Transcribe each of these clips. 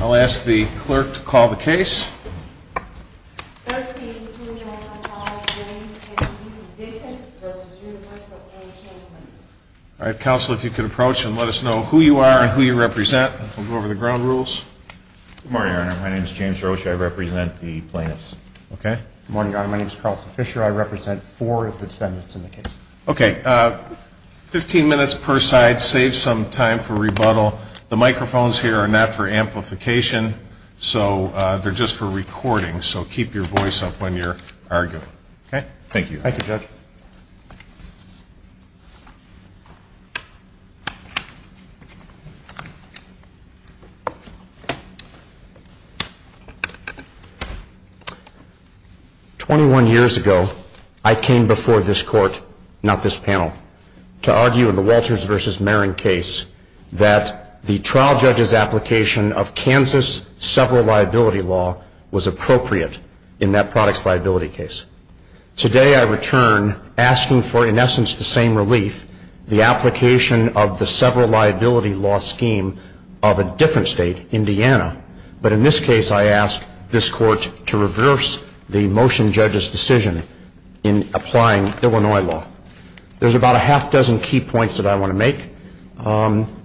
I'll ask the clerk to call the case. All right, counsel, if you could approach and let us know who you are and who you represent. We'll go over the ground rules. Good morning, Your Honor. My name is James Rocha. I represent the plaintiffs. Okay. Good morning, Your Honor. My name is Carlton Fisher. I represent four of the defendants in the case. Okay, 15 minutes per side, save some time for rebuttal. The microphones here are not for amplification, so they're just for recording. So keep your voice up when you're arguing. Thank you, Judge. Twenty-one years ago, I came before this court, not this panel, to argue in the Walters v. Marron case that the trial judge's application of Kansas sever liability law was appropriate in that product's liability case. Today, I return asking for, in essence, the same relief, the application of the sever liability law scheme of a different state, Indiana. But in this case, I ask this court to reverse the motion judge's decision in applying Illinois law. There's about a half dozen key points that I want to make.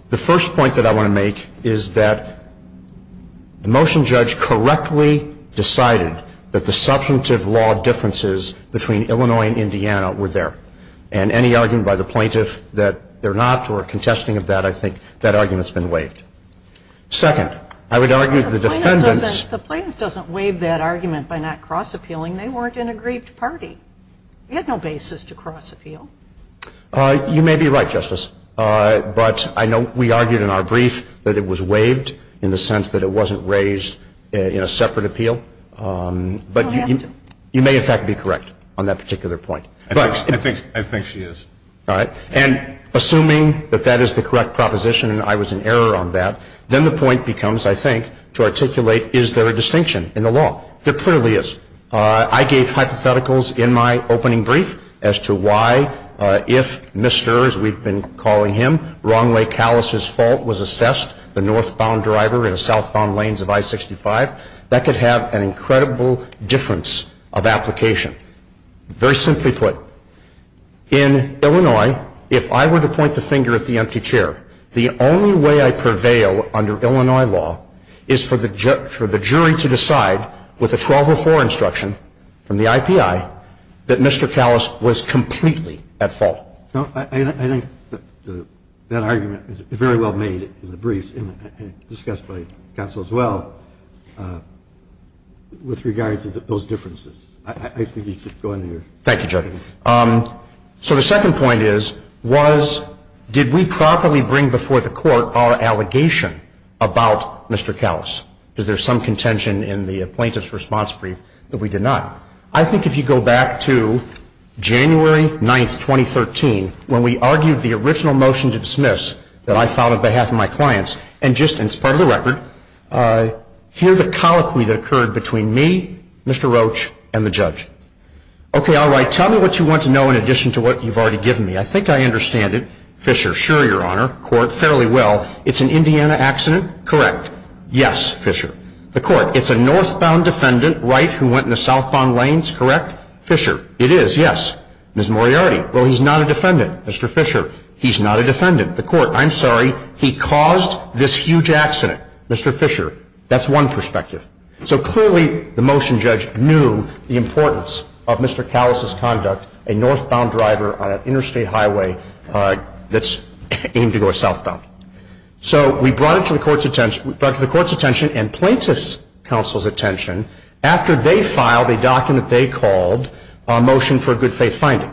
The first point that I want to make is that the motion judge correctly decided that the substantive law differences between Illinois and Indiana were there. And any argument by the plaintiff that they're not or contesting of that, I think that argument's been waived. Second, I would argue the defendant's – The plaintiff doesn't waive that argument by not cross-appealing. They weren't in a grieved party. They had no basis to cross-appeal. You may be right, Justice. But I know we argued in our brief that it was waived in the sense that it wasn't raised in a separate appeal. But you may, in fact, be correct on that particular point. I think she is. All right. And assuming that that is the correct proposition and I was in error on that, then the point becomes, I think, to articulate is there a distinction in the law. There clearly is. I gave hypotheticals in my opening brief as to why if Mr., as we've been calling him, wrongly callouses fault was assessed, the northbound driver in the southbound lanes of I-65, that could have an incredible difference of application. Very simply put, in Illinois, if I were to point the finger at the empty chair, the only way I prevail under Illinois law is for the jury to decide with a 1204 instruction from the IPI that Mr. Callous was completely at fault. No. I think that argument is very well made in the briefs and discussed by counsel as well with regard to those differences. I think you should go into your brief. Thank you, Judge. So the second point is, did we properly bring before the court our allegation about Mr. Callous? Is there some contention in the plaintiff's response brief that we did not? I think if you go back to January 9, 2013, when we argued the original motion to dismiss that I filed on behalf of my clients, and just as part of the record, here's a colloquy that occurred between me, Mr. Roach, and the judge. Okay, all right. Tell me what you want to know in addition to what you've already given me. I think I understand it. Fisher. Sure, Your Honor. Fairly well. It's an Indiana accident. Correct. Yes, Fisher. The court. It's a northbound defendant, right, who went in the southbound lanes. Correct. Fisher. It is, yes. Ms. Moriarty. Well, he's not a defendant, Mr. Fisher. He's not a defendant. The court. I'm sorry. He caused this huge accident, Mr. Fisher. That's one perspective. So clearly the motion judge knew the importance of Mr. Callis' conduct, a northbound driver on an interstate highway that's aimed to go southbound. So we brought it to the court's attention and plaintiff's counsel's attention after they filed a document they called a motion for a good faith finding.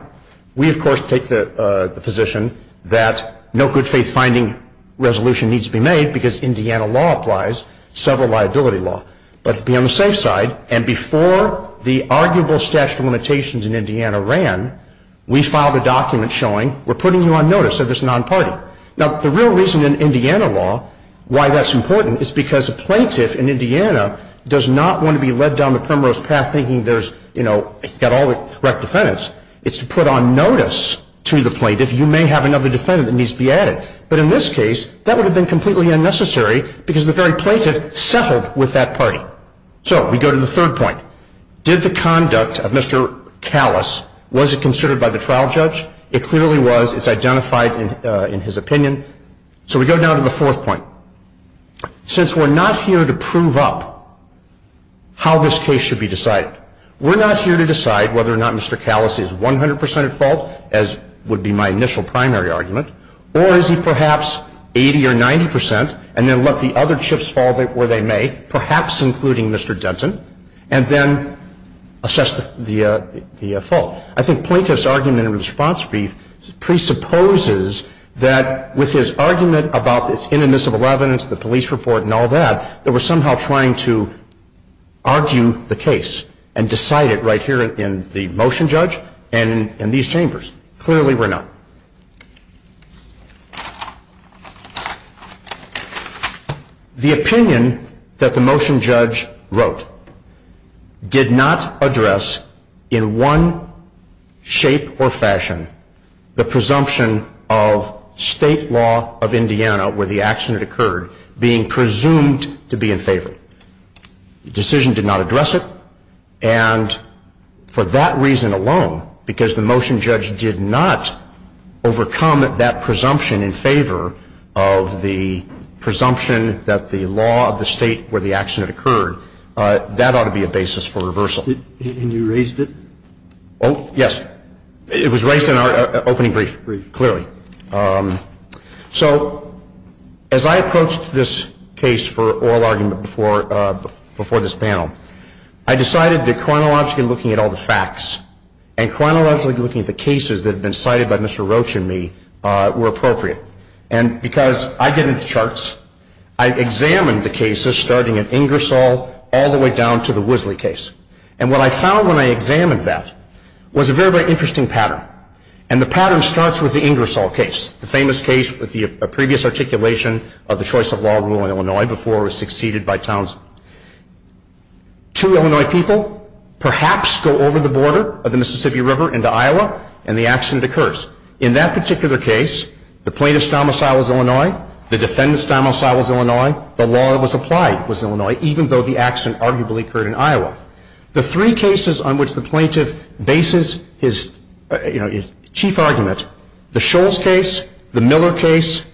We, of course, take the position that no good faith finding resolution needs to be made because Indiana law applies, several liability law. But to be on the safe side, and before the arguable statute of limitations in Indiana ran, we filed a document showing we're putting you on notice of this non-party. Now, the real reason in Indiana law why that's important is because a plaintiff in Indiana does not want to be led down the primrose path thinking there's, you know, he's got all the correct defendants. It's to put on notice to the plaintiff you may have another defendant that needs to be added. But in this case, that would have been completely unnecessary because the very plaintiff settled with that party. So we go to the third point. Did the conduct of Mr. Callis, was it considered by the trial judge? It clearly was. It's identified in his opinion. So we go now to the fourth point. Since we're not here to prove up how this case should be decided, we're not here to decide whether or not Mr. Callis is 100% at fault, as would be my initial primary argument, or is he perhaps 80 or 90% and then let the other chips fall where they may, perhaps including Mr. Denton, and then assess the fault? I think plaintiff's argument in response presupposes that with his argument about this inadmissible evidence, the police report and all that, that we're somehow trying to argue the case and decide it right here in the motion judge and in these chambers. Clearly we're not. The opinion that the motion judge wrote did not address in one shape or fashion the presumption of state law of Indiana where the accident occurred being presumed to be in favor. The decision did not address it. And for that reason alone, because the motion judge did not overcome that presumption in favor of the presumption that the law of the state where the accident occurred, that ought to be a basis for reversal. And you raised it? Oh, yes. It was raised in our opening brief, clearly. So as I approached this case for oral argument before this panel, I decided that chronologically looking at all the facts and chronologically looking at the cases that had been cited by Mr. Roach and me were appropriate. And because I get into charts, I examined the cases starting at Ingersoll all the way down to the Wisley case. And what I found when I examined that was a very, very interesting pattern. And the pattern starts with the Ingersoll case, the famous case with the previous articulation of the choice of law in Illinois before it was succeeded by Townsend. Two Illinois people perhaps go over the border of the Mississippi River into Iowa and the accident occurs. In that particular case, the plaintiff's domicile was Illinois, the defendant's domicile was Illinois, the law that was applied was Illinois, even though the accident arguably occurred in Iowa. The three cases on which the plaintiff bases his chief argument, the Scholes case, the Miller case,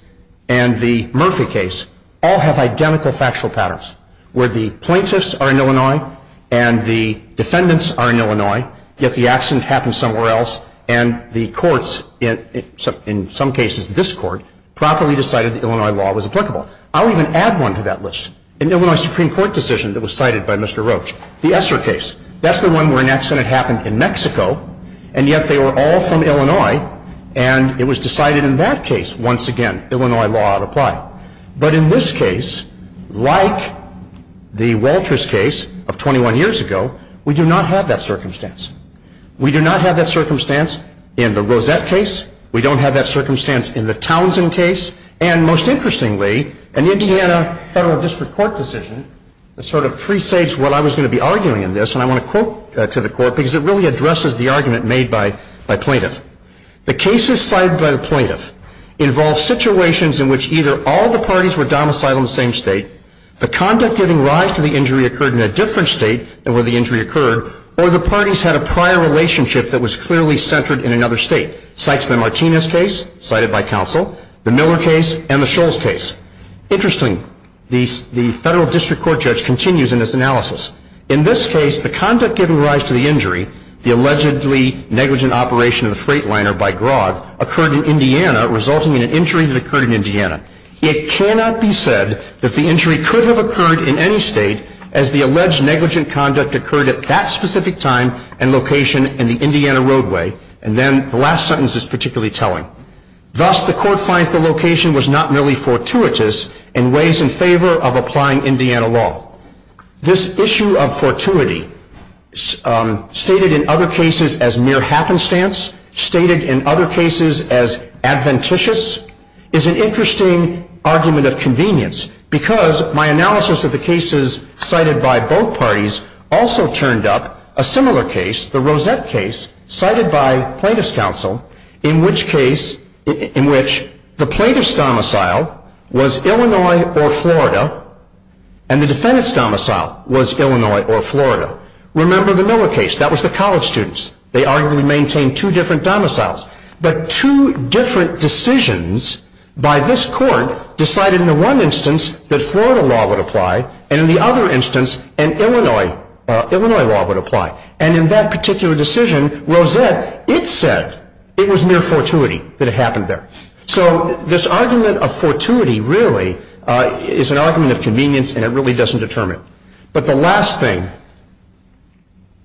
and the Murphy case, all have identical factual patterns where the plaintiffs are in Illinois and the defendants are in Illinois, yet the accident happened somewhere else and the courts, in some cases this court, properly decided that Illinois law was applicable. I'll even add one to that list. An Illinois Supreme Court decision that was cited by Mr. Roach, the Esser case. That's the one where an accident happened in Mexico and yet they were all from Illinois and it was decided in that case, once again, Illinois law applied. But in this case, like the Walters case of 21 years ago, we do not have that circumstance. We do not have that circumstance in the Rosette case. We don't have that circumstance in the Townsend case. And most interestingly, an Indiana federal district court decision that sort of presages what I was going to be arguing in this, and I want to quote to the court because it really addresses the argument made by plaintiff. The cases cited by the plaintiff involve situations in which either all the parties were domiciled in the same state, the conduct giving rise to the injury occurred in a different state than where the injury occurred, or the parties had a prior relationship that was clearly centered in another state. It cites the Martinez case cited by counsel, the Miller case, and the Scholes case. Interestingly, the federal district court judge continues in this analysis. In this case, the conduct giving rise to the injury, the allegedly negligent operation of the freight liner by Grodd, occurred in Indiana resulting in an injury that occurred in Indiana. It cannot be said that the injury could have occurred in any state as the alleged negligent conduct occurred at that specific time and location in the Indiana roadway. And then the last sentence is particularly telling. Thus, the court finds the location was not merely fortuitous in ways in favor of applying Indiana law. This issue of fortuity, stated in other cases as mere happenstance, stated in other cases as adventitious, is an interesting argument of convenience because my analysis of the cases cited by both parties also turned up a similar case, the Rosette case cited by plaintiff's counsel, in which the plaintiff's domicile was Illinois or Florida and the defendant's domicile was Illinois or Florida. Remember the Miller case. That was the college students. They arguably maintained two different domiciles. But two different decisions by this court decided in the one instance that Florida law would apply and in the other instance an Illinois law would apply. And in that particular decision, Rosette, it said it was mere fortuity that it happened there. So this argument of fortuity really is an argument of convenience and it really doesn't determine it. But the last thing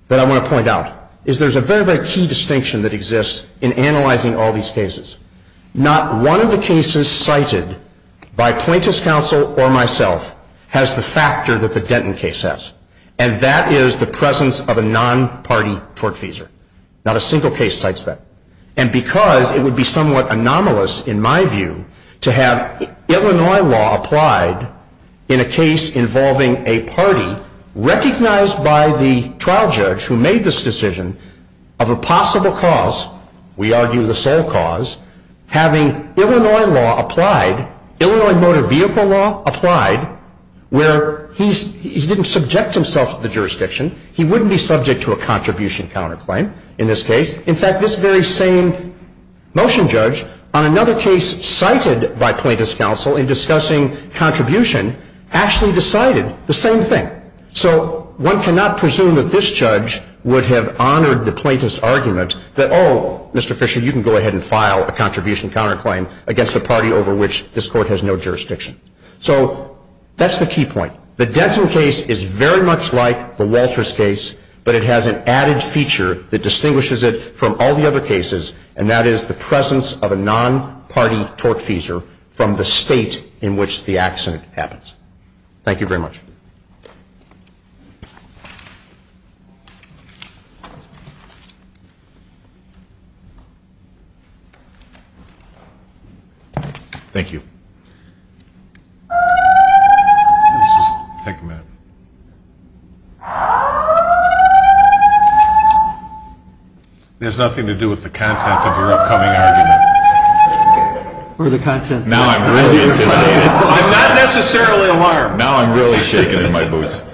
that I want to point out is there's a very, very key distinction that exists in analyzing all these cases. Not one of the cases cited by plaintiff's counsel or myself has the factor that the Denton case has. And that is the presence of a non-party tortfeasor. Not a single case cites that. And because it would be somewhat anomalous, in my view, to have Illinois law applied in a case involving a party recognized by the trial judge who made this decision of a possible cause, we argue the sole cause, having Illinois law applied, Illinois motor vehicle law applied, where he didn't subject himself to the jurisdiction. He wouldn't be subject to a contribution counterclaim in this case. In fact, this very same motion judge on another case cited by plaintiff's counsel in discussing contribution actually decided the same thing. So one cannot presume that this judge would have honored the plaintiff's argument that, oh, Mr. Fisher, you can go ahead and file a contribution counterclaim against a party over which this court has no jurisdiction. So that's the key point. The Denton case is very much like the Walters case, but it has an added feature that distinguishes it from all the other cases, and that is the presence of a non-party tortfeasor from the state in which the accident happens. Thank you very much. Thank you. Let's just take a minute. There's nothing to do with the content of your upcoming argument. Now I'm really intimidated. I'm not necessarily alarmed. Now I'm really shaking in my boots.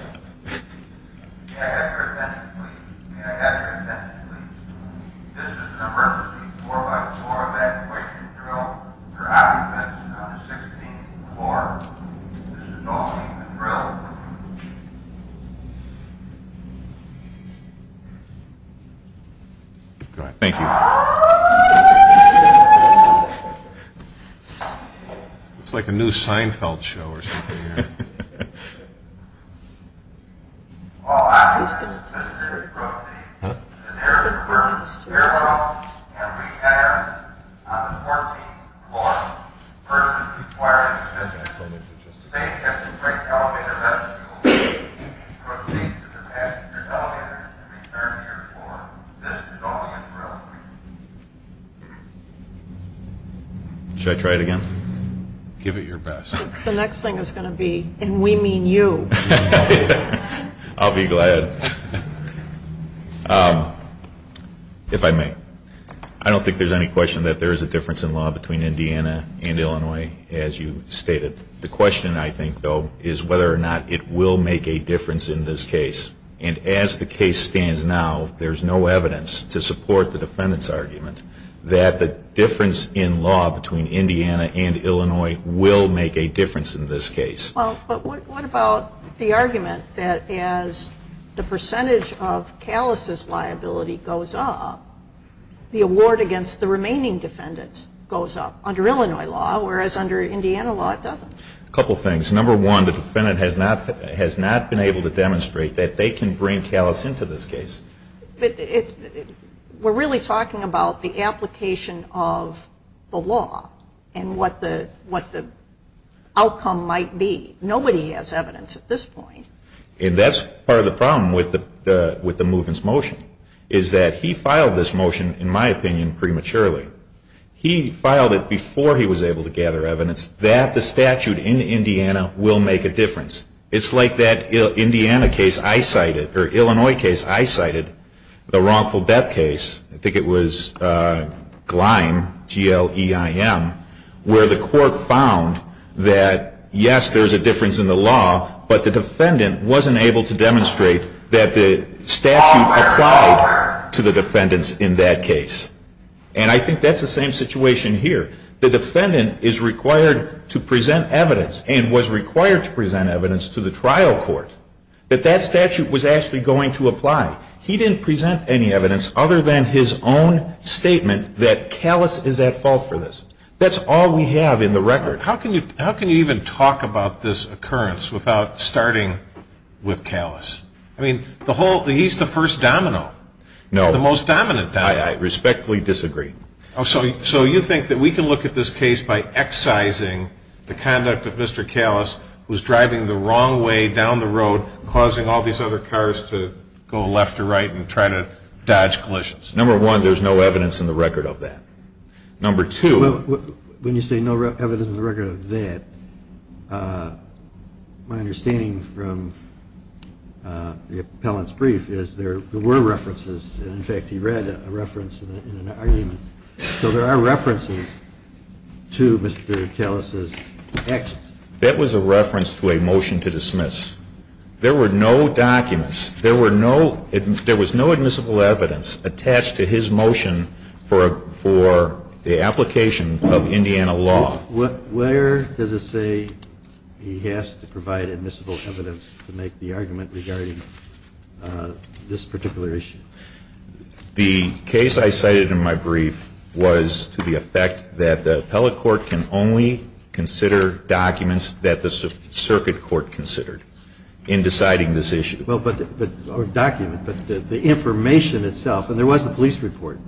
May I have your attention, please? May I have your attention, please? This is an emergency 4-by-4 evacuation drill. There are occupants on the 16th floor. This is an all-team drill. Go ahead. Thank you. It's like a new Seinfeld show or something. Should I try it again? Give it your best. The next thing is going to be, and we mean you. I'll be glad, if I may. I don't think there's any question that there is a difference in law between Indiana and Illinois, as you stated. The question, I think, though, is whether or not it will make a difference in this case. And as the case stands now, there's no evidence to support the defendant's argument that the difference in law between Indiana and Illinois will make a difference in this case. Well, but what about the argument that as the percentage of Callis' liability goes up, the award against the remaining defendants goes up under Illinois law, whereas under Indiana law it doesn't? A couple things. Number one, the defendant has not been able to demonstrate that they can bring Callis into this case. We're really talking about the application of the law and what the outcome might be. Nobody has evidence at this point. And that's part of the problem with the movement's motion, is that he filed this motion, in my opinion, prematurely. He filed it before he was able to gather evidence that the statute in Indiana will make a difference. It's like that Indiana case I cited, or Illinois case I cited, the wrongful death case. I think it was Gleim, G-L-E-I-M, where the court found that, yes, there's a difference in the law, but the defendant wasn't able to demonstrate that the statute applied to the defendants in that case. And I think that's the same situation here. The defendant is required to present evidence, and was required to present evidence to the trial court, that that statute was actually going to apply. He didn't present any evidence other than his own statement that Callis is at fault for this. That's all we have in the record. How can you even talk about this occurrence without starting with Callis? I mean, he's the first domino. No. The most dominant domino. I respectfully disagree. So you think that we can look at this case by excising the conduct of Mr. Callis, who's driving the wrong way down the road, causing all these other cars to go left to right and try to dodge collisions. Number one, there's no evidence in the record of that. Number two. When you say no evidence in the record of that, my understanding from the appellant's brief is there were references. In fact, he read a reference in an argument. So there are references to Mr. Callis's actions. That was a reference to a motion to dismiss. There were no documents. There was no admissible evidence attached to his motion for the application of Indiana law. Now, where does it say he has to provide admissible evidence to make the argument regarding this particular issue? The case I cited in my brief was to the effect that the appellate court can only consider documents that the circuit court considered in deciding this issue. Well, but the document, but the information itself, and there was a police report.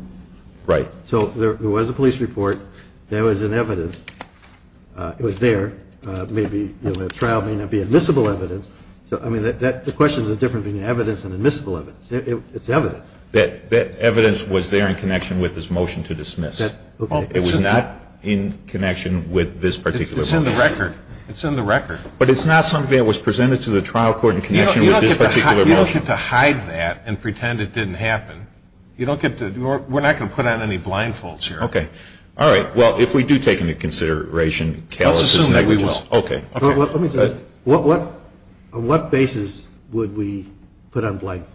Right. So there was a police report. There was an evidence. It was there. Maybe the trial may not be admissible evidence. So, I mean, the question is the difference between evidence and admissible evidence. It's evidence. That evidence was there in connection with his motion to dismiss. It was not in connection with this particular motion. It's in the record. It's in the record. But it's not something that was presented to the trial court in connection with this particular motion. You don't get to hide that and pretend it didn't happen. You don't get to, we're not going to put on any blindfolds here. Okay. All right. Well, if we do take into consideration callousness and negligence. Let's assume that we will. Okay. Let me tell you. On what basis would we put on blindfolds?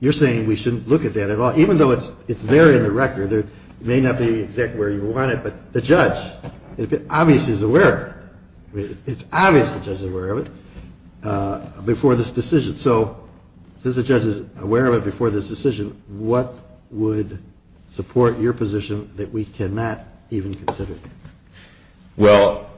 You're saying we shouldn't look at that at all. Even though it's there in the record. It may not be exactly where you want it, but the judge obviously is aware of it. It's obvious the judge is aware of it before this decision. So since the judge is aware of it before this decision, what would support your position that we cannot even consider? Well,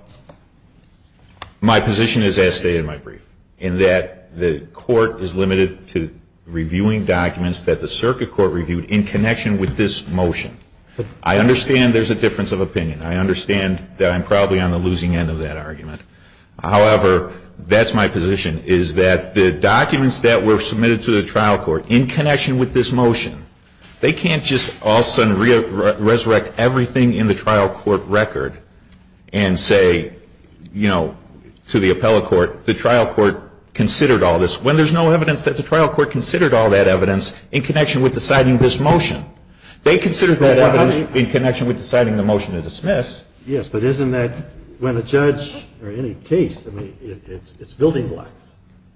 my position is as stated in my brief, in that the court is limited to reviewing documents that the circuit court reviewed in connection with this motion. I understand there's a difference of opinion. I understand that I'm probably on the losing end of that argument. However, that's my position, is that the documents that were submitted to the trial court in connection with this motion, they can't just all of a sudden resurrect everything in the trial court record and say, you know, to the appellate court, the trial court considered all this when there's no evidence that the trial court considered all that evidence in connection with deciding this motion. They considered that evidence in connection with deciding the motion to dismiss. Yes, but isn't that when a judge or any case, I mean, it's building blocks.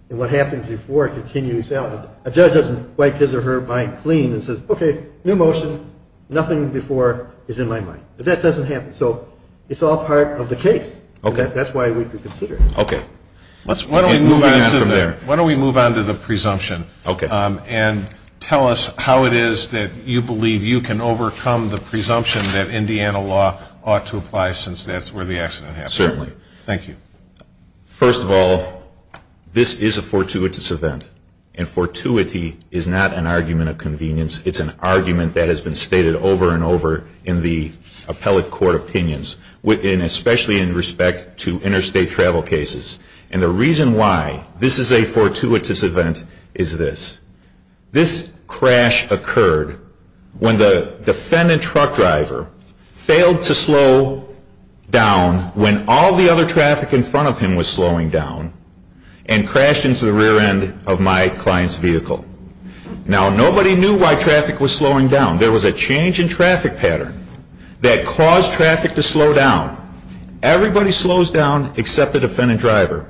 And what happens before it continues out. A judge doesn't wipe his or her mind clean and says, okay, new motion, nothing before is in my mind. But that doesn't happen. So it's all part of the case. That's why we could consider it. Okay. Let's move on from there. Why don't we move on to the presumption. Okay. And tell us how it is that you believe you can overcome the presumption that Indiana law ought to apply since that's where the accident happened. Certainly. Thank you. First of all, this is a fortuitous event. And fortuity is not an argument of convenience. It's an argument that has been stated over and over in the appellate court opinions, especially in respect to interstate travel cases. And the reason why this is a fortuitous event is this. This crash occurred when the defendant truck driver failed to slow down when all the other traffic in front of him was slowing down and crashed into the rear end of my client's vehicle. Now, nobody knew why traffic was slowing down. There was a change in traffic pattern that caused traffic to slow down. Everybody slows down except the defendant driver.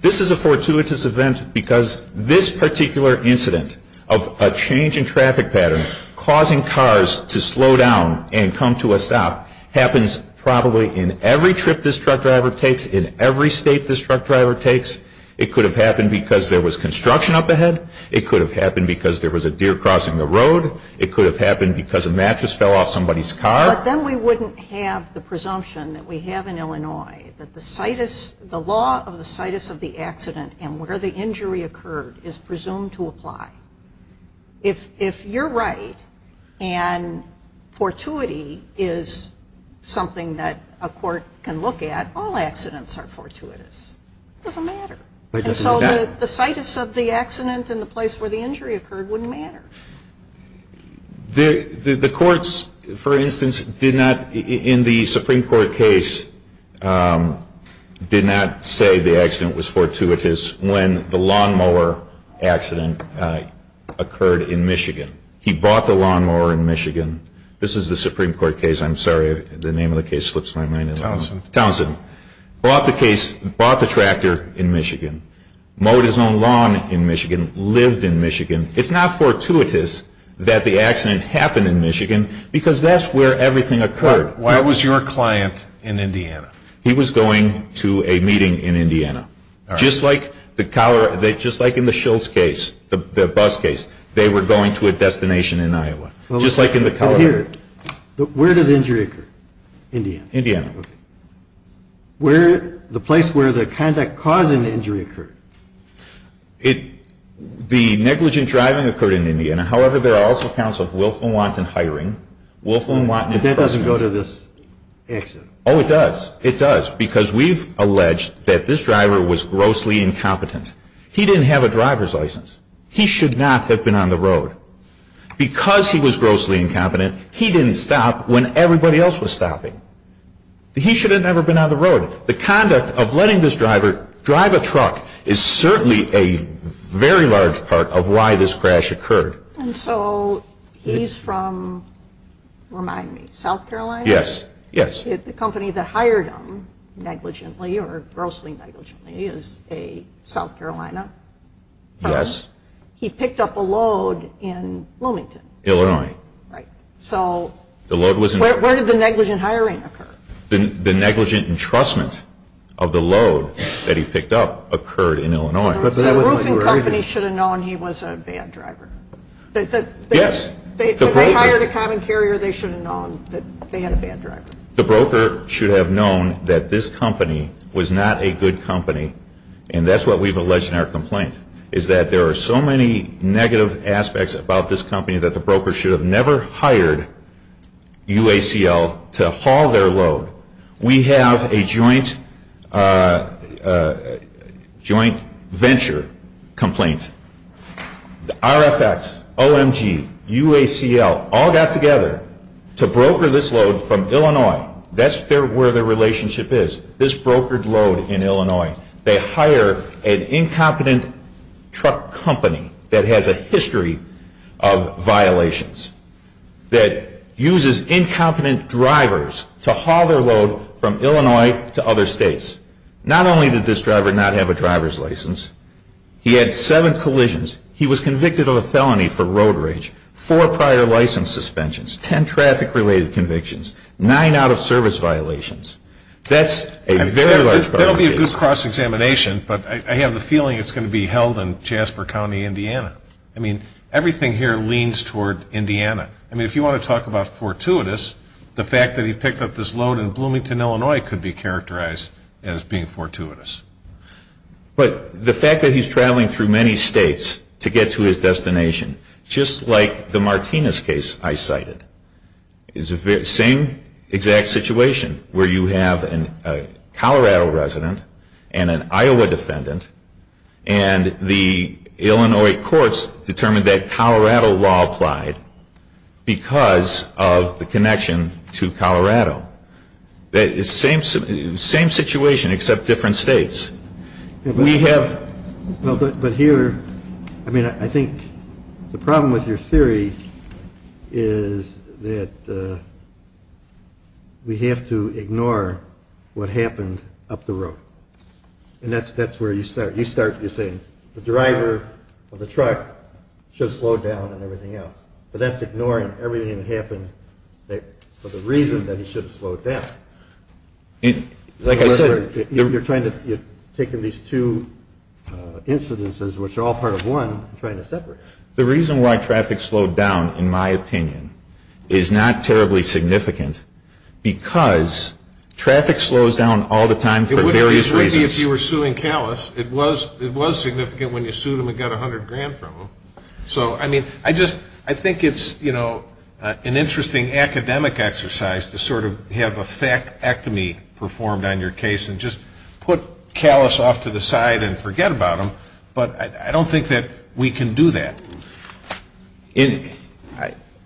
This is a fortuitous event because this particular incident of a change in traffic pattern causing cars to slow down and come to a stop happens probably in every trip this truck driver takes, in every state this truck driver takes. It could have happened because there was construction up ahead. It could have happened because there was a deer crossing the road. It could have happened because a mattress fell off somebody's car. But then we wouldn't have the presumption that we have in Illinois that the law of the situs of the accident and where the injury occurred is presumed to apply. If you're right and fortuity is something that a court can look at, all accidents are fortuitous. It doesn't matter. And so the situs of the accident and the place where the injury occurred wouldn't matter. The courts, for instance, did not, in the Supreme Court case, did not say the accident was fortuitous when the lawnmower accident occurred in Michigan. He bought the lawnmower in Michigan. This is the Supreme Court case. I'm sorry, the name of the case slips my mind. Townsend. Townsend. Bought the case, bought the tractor in Michigan. Mowed his own lawn in Michigan, lived in Michigan. It's not fortuitous that the accident happened in Michigan because that's where everything occurred. Why was your client in Indiana? He was going to a meeting in Indiana. Just like in the Schultz case, the bus case, they were going to a destination in Iowa. Just like in the Colorado. But here, where did the injury occur? Indiana. Indiana. The place where the conduct causing the injury occurred. The negligent driving occurred in Indiana. However, there are also accounts of willful and wanton hiring. Willful and wanton imprisonment. But that doesn't go to this accident. Oh, it does. It does because we've alleged that this driver was grossly incompetent. He didn't have a driver's license. He should not have been on the road. Because he was grossly incompetent, he didn't stop when everybody else was stopping. He should have never been on the road. The conduct of letting this driver drive a truck is certainly a very large part of why this crash occurred. And so he's from, remind me, South Carolina? Yes, yes. The company that hired him negligently or grossly negligently is a South Carolina firm. Yes. He picked up a load in Bloomington. Illinois. Right. So where did the negligent hiring occur? The negligent entrustment of the load that he picked up occurred in Illinois. But the roofing company should have known he was a bad driver. Yes. If they hired a common carrier, they should have known that they had a bad driver. The broker should have known that this company was not a good company, and that's what we've alleged in our complaint, is that there are so many negative aspects about this company that the broker should have never hired UACL to haul their load. We have a joint venture complaint. RFX, OMG, UACL all got together to broker this load from Illinois. That's where their relationship is, this brokered load in Illinois. They hire an incompetent truck company that has a history of violations, that uses incompetent drivers to haul their load from Illinois to other states. Not only did this driver not have a driver's license, he had seven collisions. He was convicted of a felony for road rage, four prior license suspensions, ten traffic-related convictions, nine out-of-service violations. That's a very large problem. That will be a good cross-examination, but I have the feeling it's going to be held in Jasper County, Indiana. I mean, everything here leans toward Indiana. I mean, if you want to talk about fortuitous, the fact that he picked up this load in Bloomington, Illinois, could be characterized as being fortuitous. But the fact that he's traveling through many states to get to his destination, just like the Martinez case I cited, is the same exact situation where you have a Colorado resident and an Iowa defendant, and the Illinois courts determined that Colorado law applied because of the connection to Colorado. It's the same situation except different states. But here, I mean, I think the problem with your theory is that we have to ignore what happened up the road. And that's where you start. You're saying the driver of the truck should have slowed down and everything else, but that's ignoring everything that happened for the reason that he should have slowed down. Like I said, you're taking these two incidences, which are all part of one, and trying to separate them. The reason why traffic slowed down, in my opinion, is not terribly significant because traffic slows down all the time for various reasons. It wouldn't be if you were suing callous. It was significant when you sued him and got $100,000 from him. So, I mean, I think it's an interesting academic exercise to sort of have a fact-ectomy performed on your case and just put callous off to the side and forget about them. But I don't think that we can do that.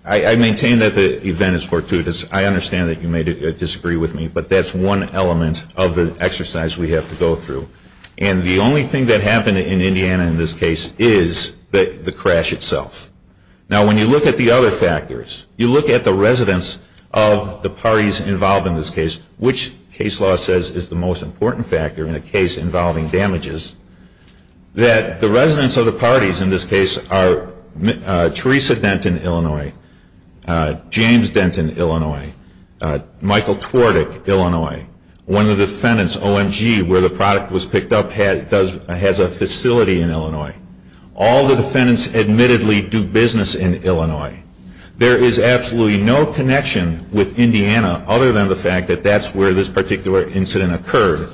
I maintain that the event is fortuitous. I understand that you may disagree with me, but that's one element of the exercise we have to go through. And the only thing that happened in Indiana in this case is the crash itself. Now, when you look at the other factors, you look at the residents of the parties involved in this case, which case law says is the most important factor in a case involving damages, that the residents of the parties in this case are Teresa Denton, Illinois, one of the defendants, OMG, where the product was picked up has a facility in Illinois. All the defendants admittedly do business in Illinois. There is absolutely no connection with Indiana other than the fact that that's where this particular incident occurred.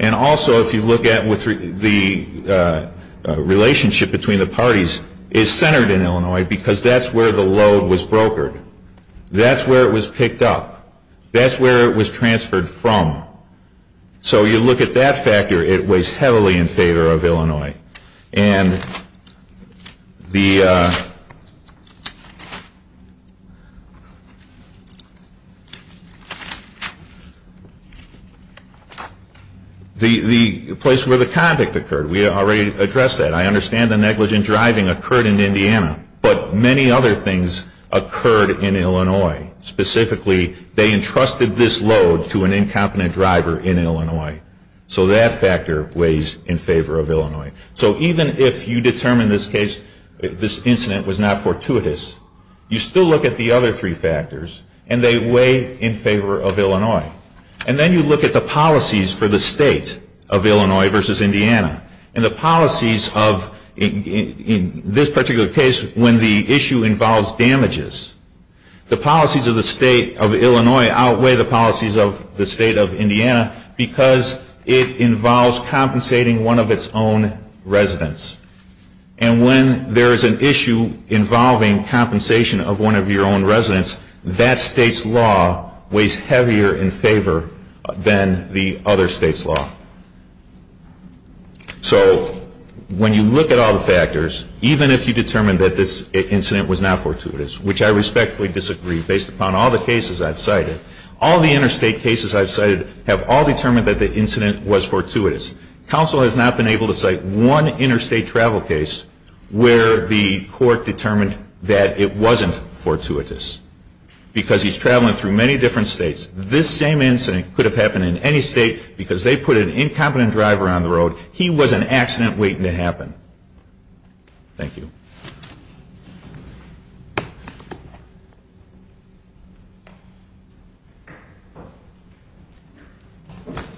And also, if you look at the relationship between the parties, it's centered in Illinois because that's where the load was brokered. That's where it was picked up. That's where it was transferred from. So you look at that factor, it weighs heavily in favor of Illinois. And the place where the convict occurred, we already addressed that. I understand the negligent driving occurred in Indiana, but many other things occurred in Illinois. Specifically, they entrusted this load to an incompetent driver in Illinois. So that factor weighs in favor of Illinois. So even if you determine this case, this incident was not fortuitous, you still look at the other three factors, and they weigh in favor of Illinois. And then you look at the policies for the state of Illinois versus Indiana. And the policies of, in this particular case, when the issue involves damages, the policies of the state of Illinois outweigh the policies of the state of Indiana because it involves compensating one of its own residents. And when there is an issue involving compensation of one of your own residents, that state's law weighs heavier in favor than the other state's law. So when you look at all the factors, even if you determine that this incident was not fortuitous, which I respectfully disagree based upon all the cases I've cited, all the interstate cases I've cited have all determined that the incident was fortuitous. Counsel has not been able to cite one interstate travel case where the court determined that it wasn't fortuitous because he's traveling through many different states. This same incident could have happened in any state because they put an incompetent driver on the road. He was an accident waiting to happen. Thank you.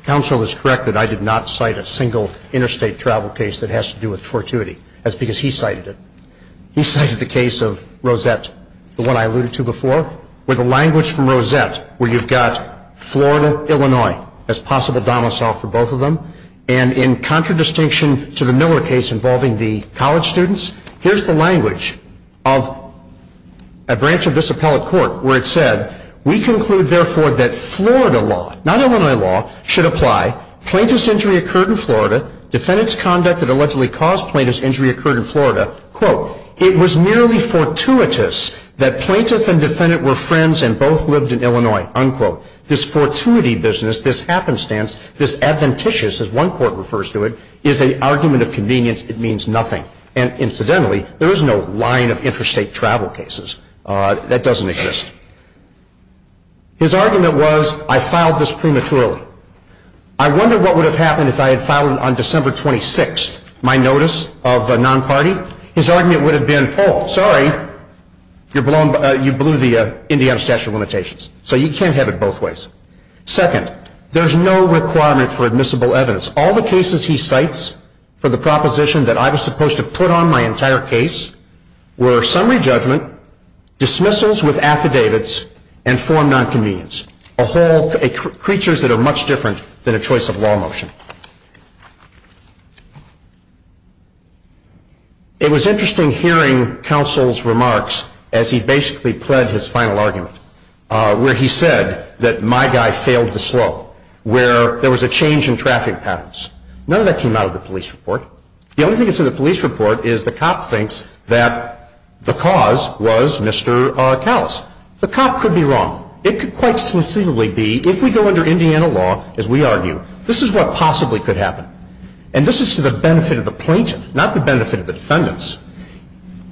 Counsel is correct that I did not cite a single interstate travel case that has to do with fortuity. That's because he cited it. He cited the case of Rosette, the one I alluded to before, where the language from Rosette where you've got Florida, Illinois, as possible domicile for both of them, and in contradistinction to the Miller case involving the college students, here's the language of a branch of this appellate court where it said, we conclude therefore that Florida law, not Illinois law, should apply. Plaintiff's injury occurred in Florida. Defendant's conduct that allegedly caused plaintiff's injury occurred in Florida. Quote, it was merely fortuitous that plaintiff and defendant were friends and both lived in Illinois. Unquote. This fortuity business, this happenstance, this adventitious, as one court refers to it, is an argument of convenience. It means nothing. And incidentally, there is no line of interstate travel cases. That doesn't exist. His argument was, I filed this prematurely. I wonder what would have happened if I had filed it on December 26th, my notice of non-party. His argument would have been, oh, sorry, you blew the Indiana statute of limitations. So you can't have it both ways. Second, there's no requirement for admissible evidence. All the cases he cites for the proposition that I was supposed to put on my entire case were summary judgment, dismissals with affidavits, and form nonconvenience. Creatures that are much different than a choice of law motion. It was interesting hearing counsel's remarks as he basically pled his final argument, where he said that my guy failed to slow, where there was a change in traffic patterns. None of that came out of the police report. The only thing that's in the police report is the cop thinks that the cause was Mr. Callis. The cop could be wrong. It could quite sincerely be, if we go under Indiana law, as we argue, this is what possibly could happen. And this is to the benefit of the plaintiff, not the benefit of the defendants.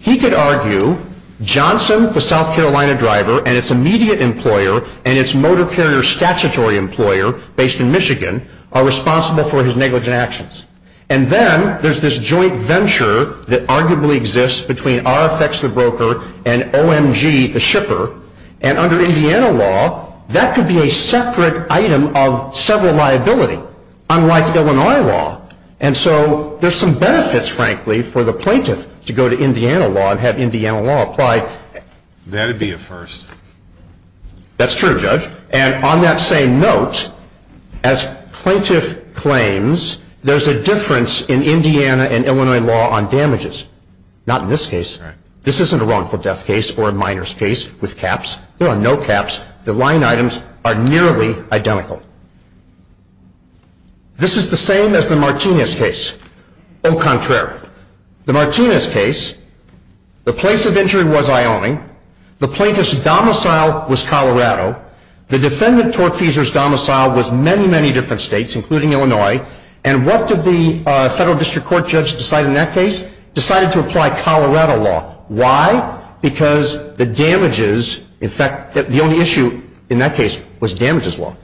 He could argue Johnson, the South Carolina driver, and its immediate employer, and its motor carrier statutory employer based in Michigan, are responsible for his negligent actions. And then there's this joint venture that arguably exists between RFX, the broker, and OMG, the shipper. And under Indiana law, that could be a separate item of several liability, unlike Illinois law. And so there's some benefits, frankly, for the plaintiff to go to Indiana law and have Indiana law apply. That would be a first. That's true, Judge. And on that same note, as plaintiff claims, there's a difference in Indiana and Illinois law on damages. Not in this case. Right. This isn't a wrongful death case or a minor's case with caps. There are no caps. The line items are nearly identical. This is the same as the Martinez case. Au contraire. The Martinez case, the place of injury was Iowa. The plaintiff's domicile was Colorado. The defendant, Tortfeasor's domicile, was many, many different states, including Illinois. And what did the federal district court judge decide in that case? Decided to apply Colorado law. Why? Because the damages, in fact, the only issue in that case was damages law.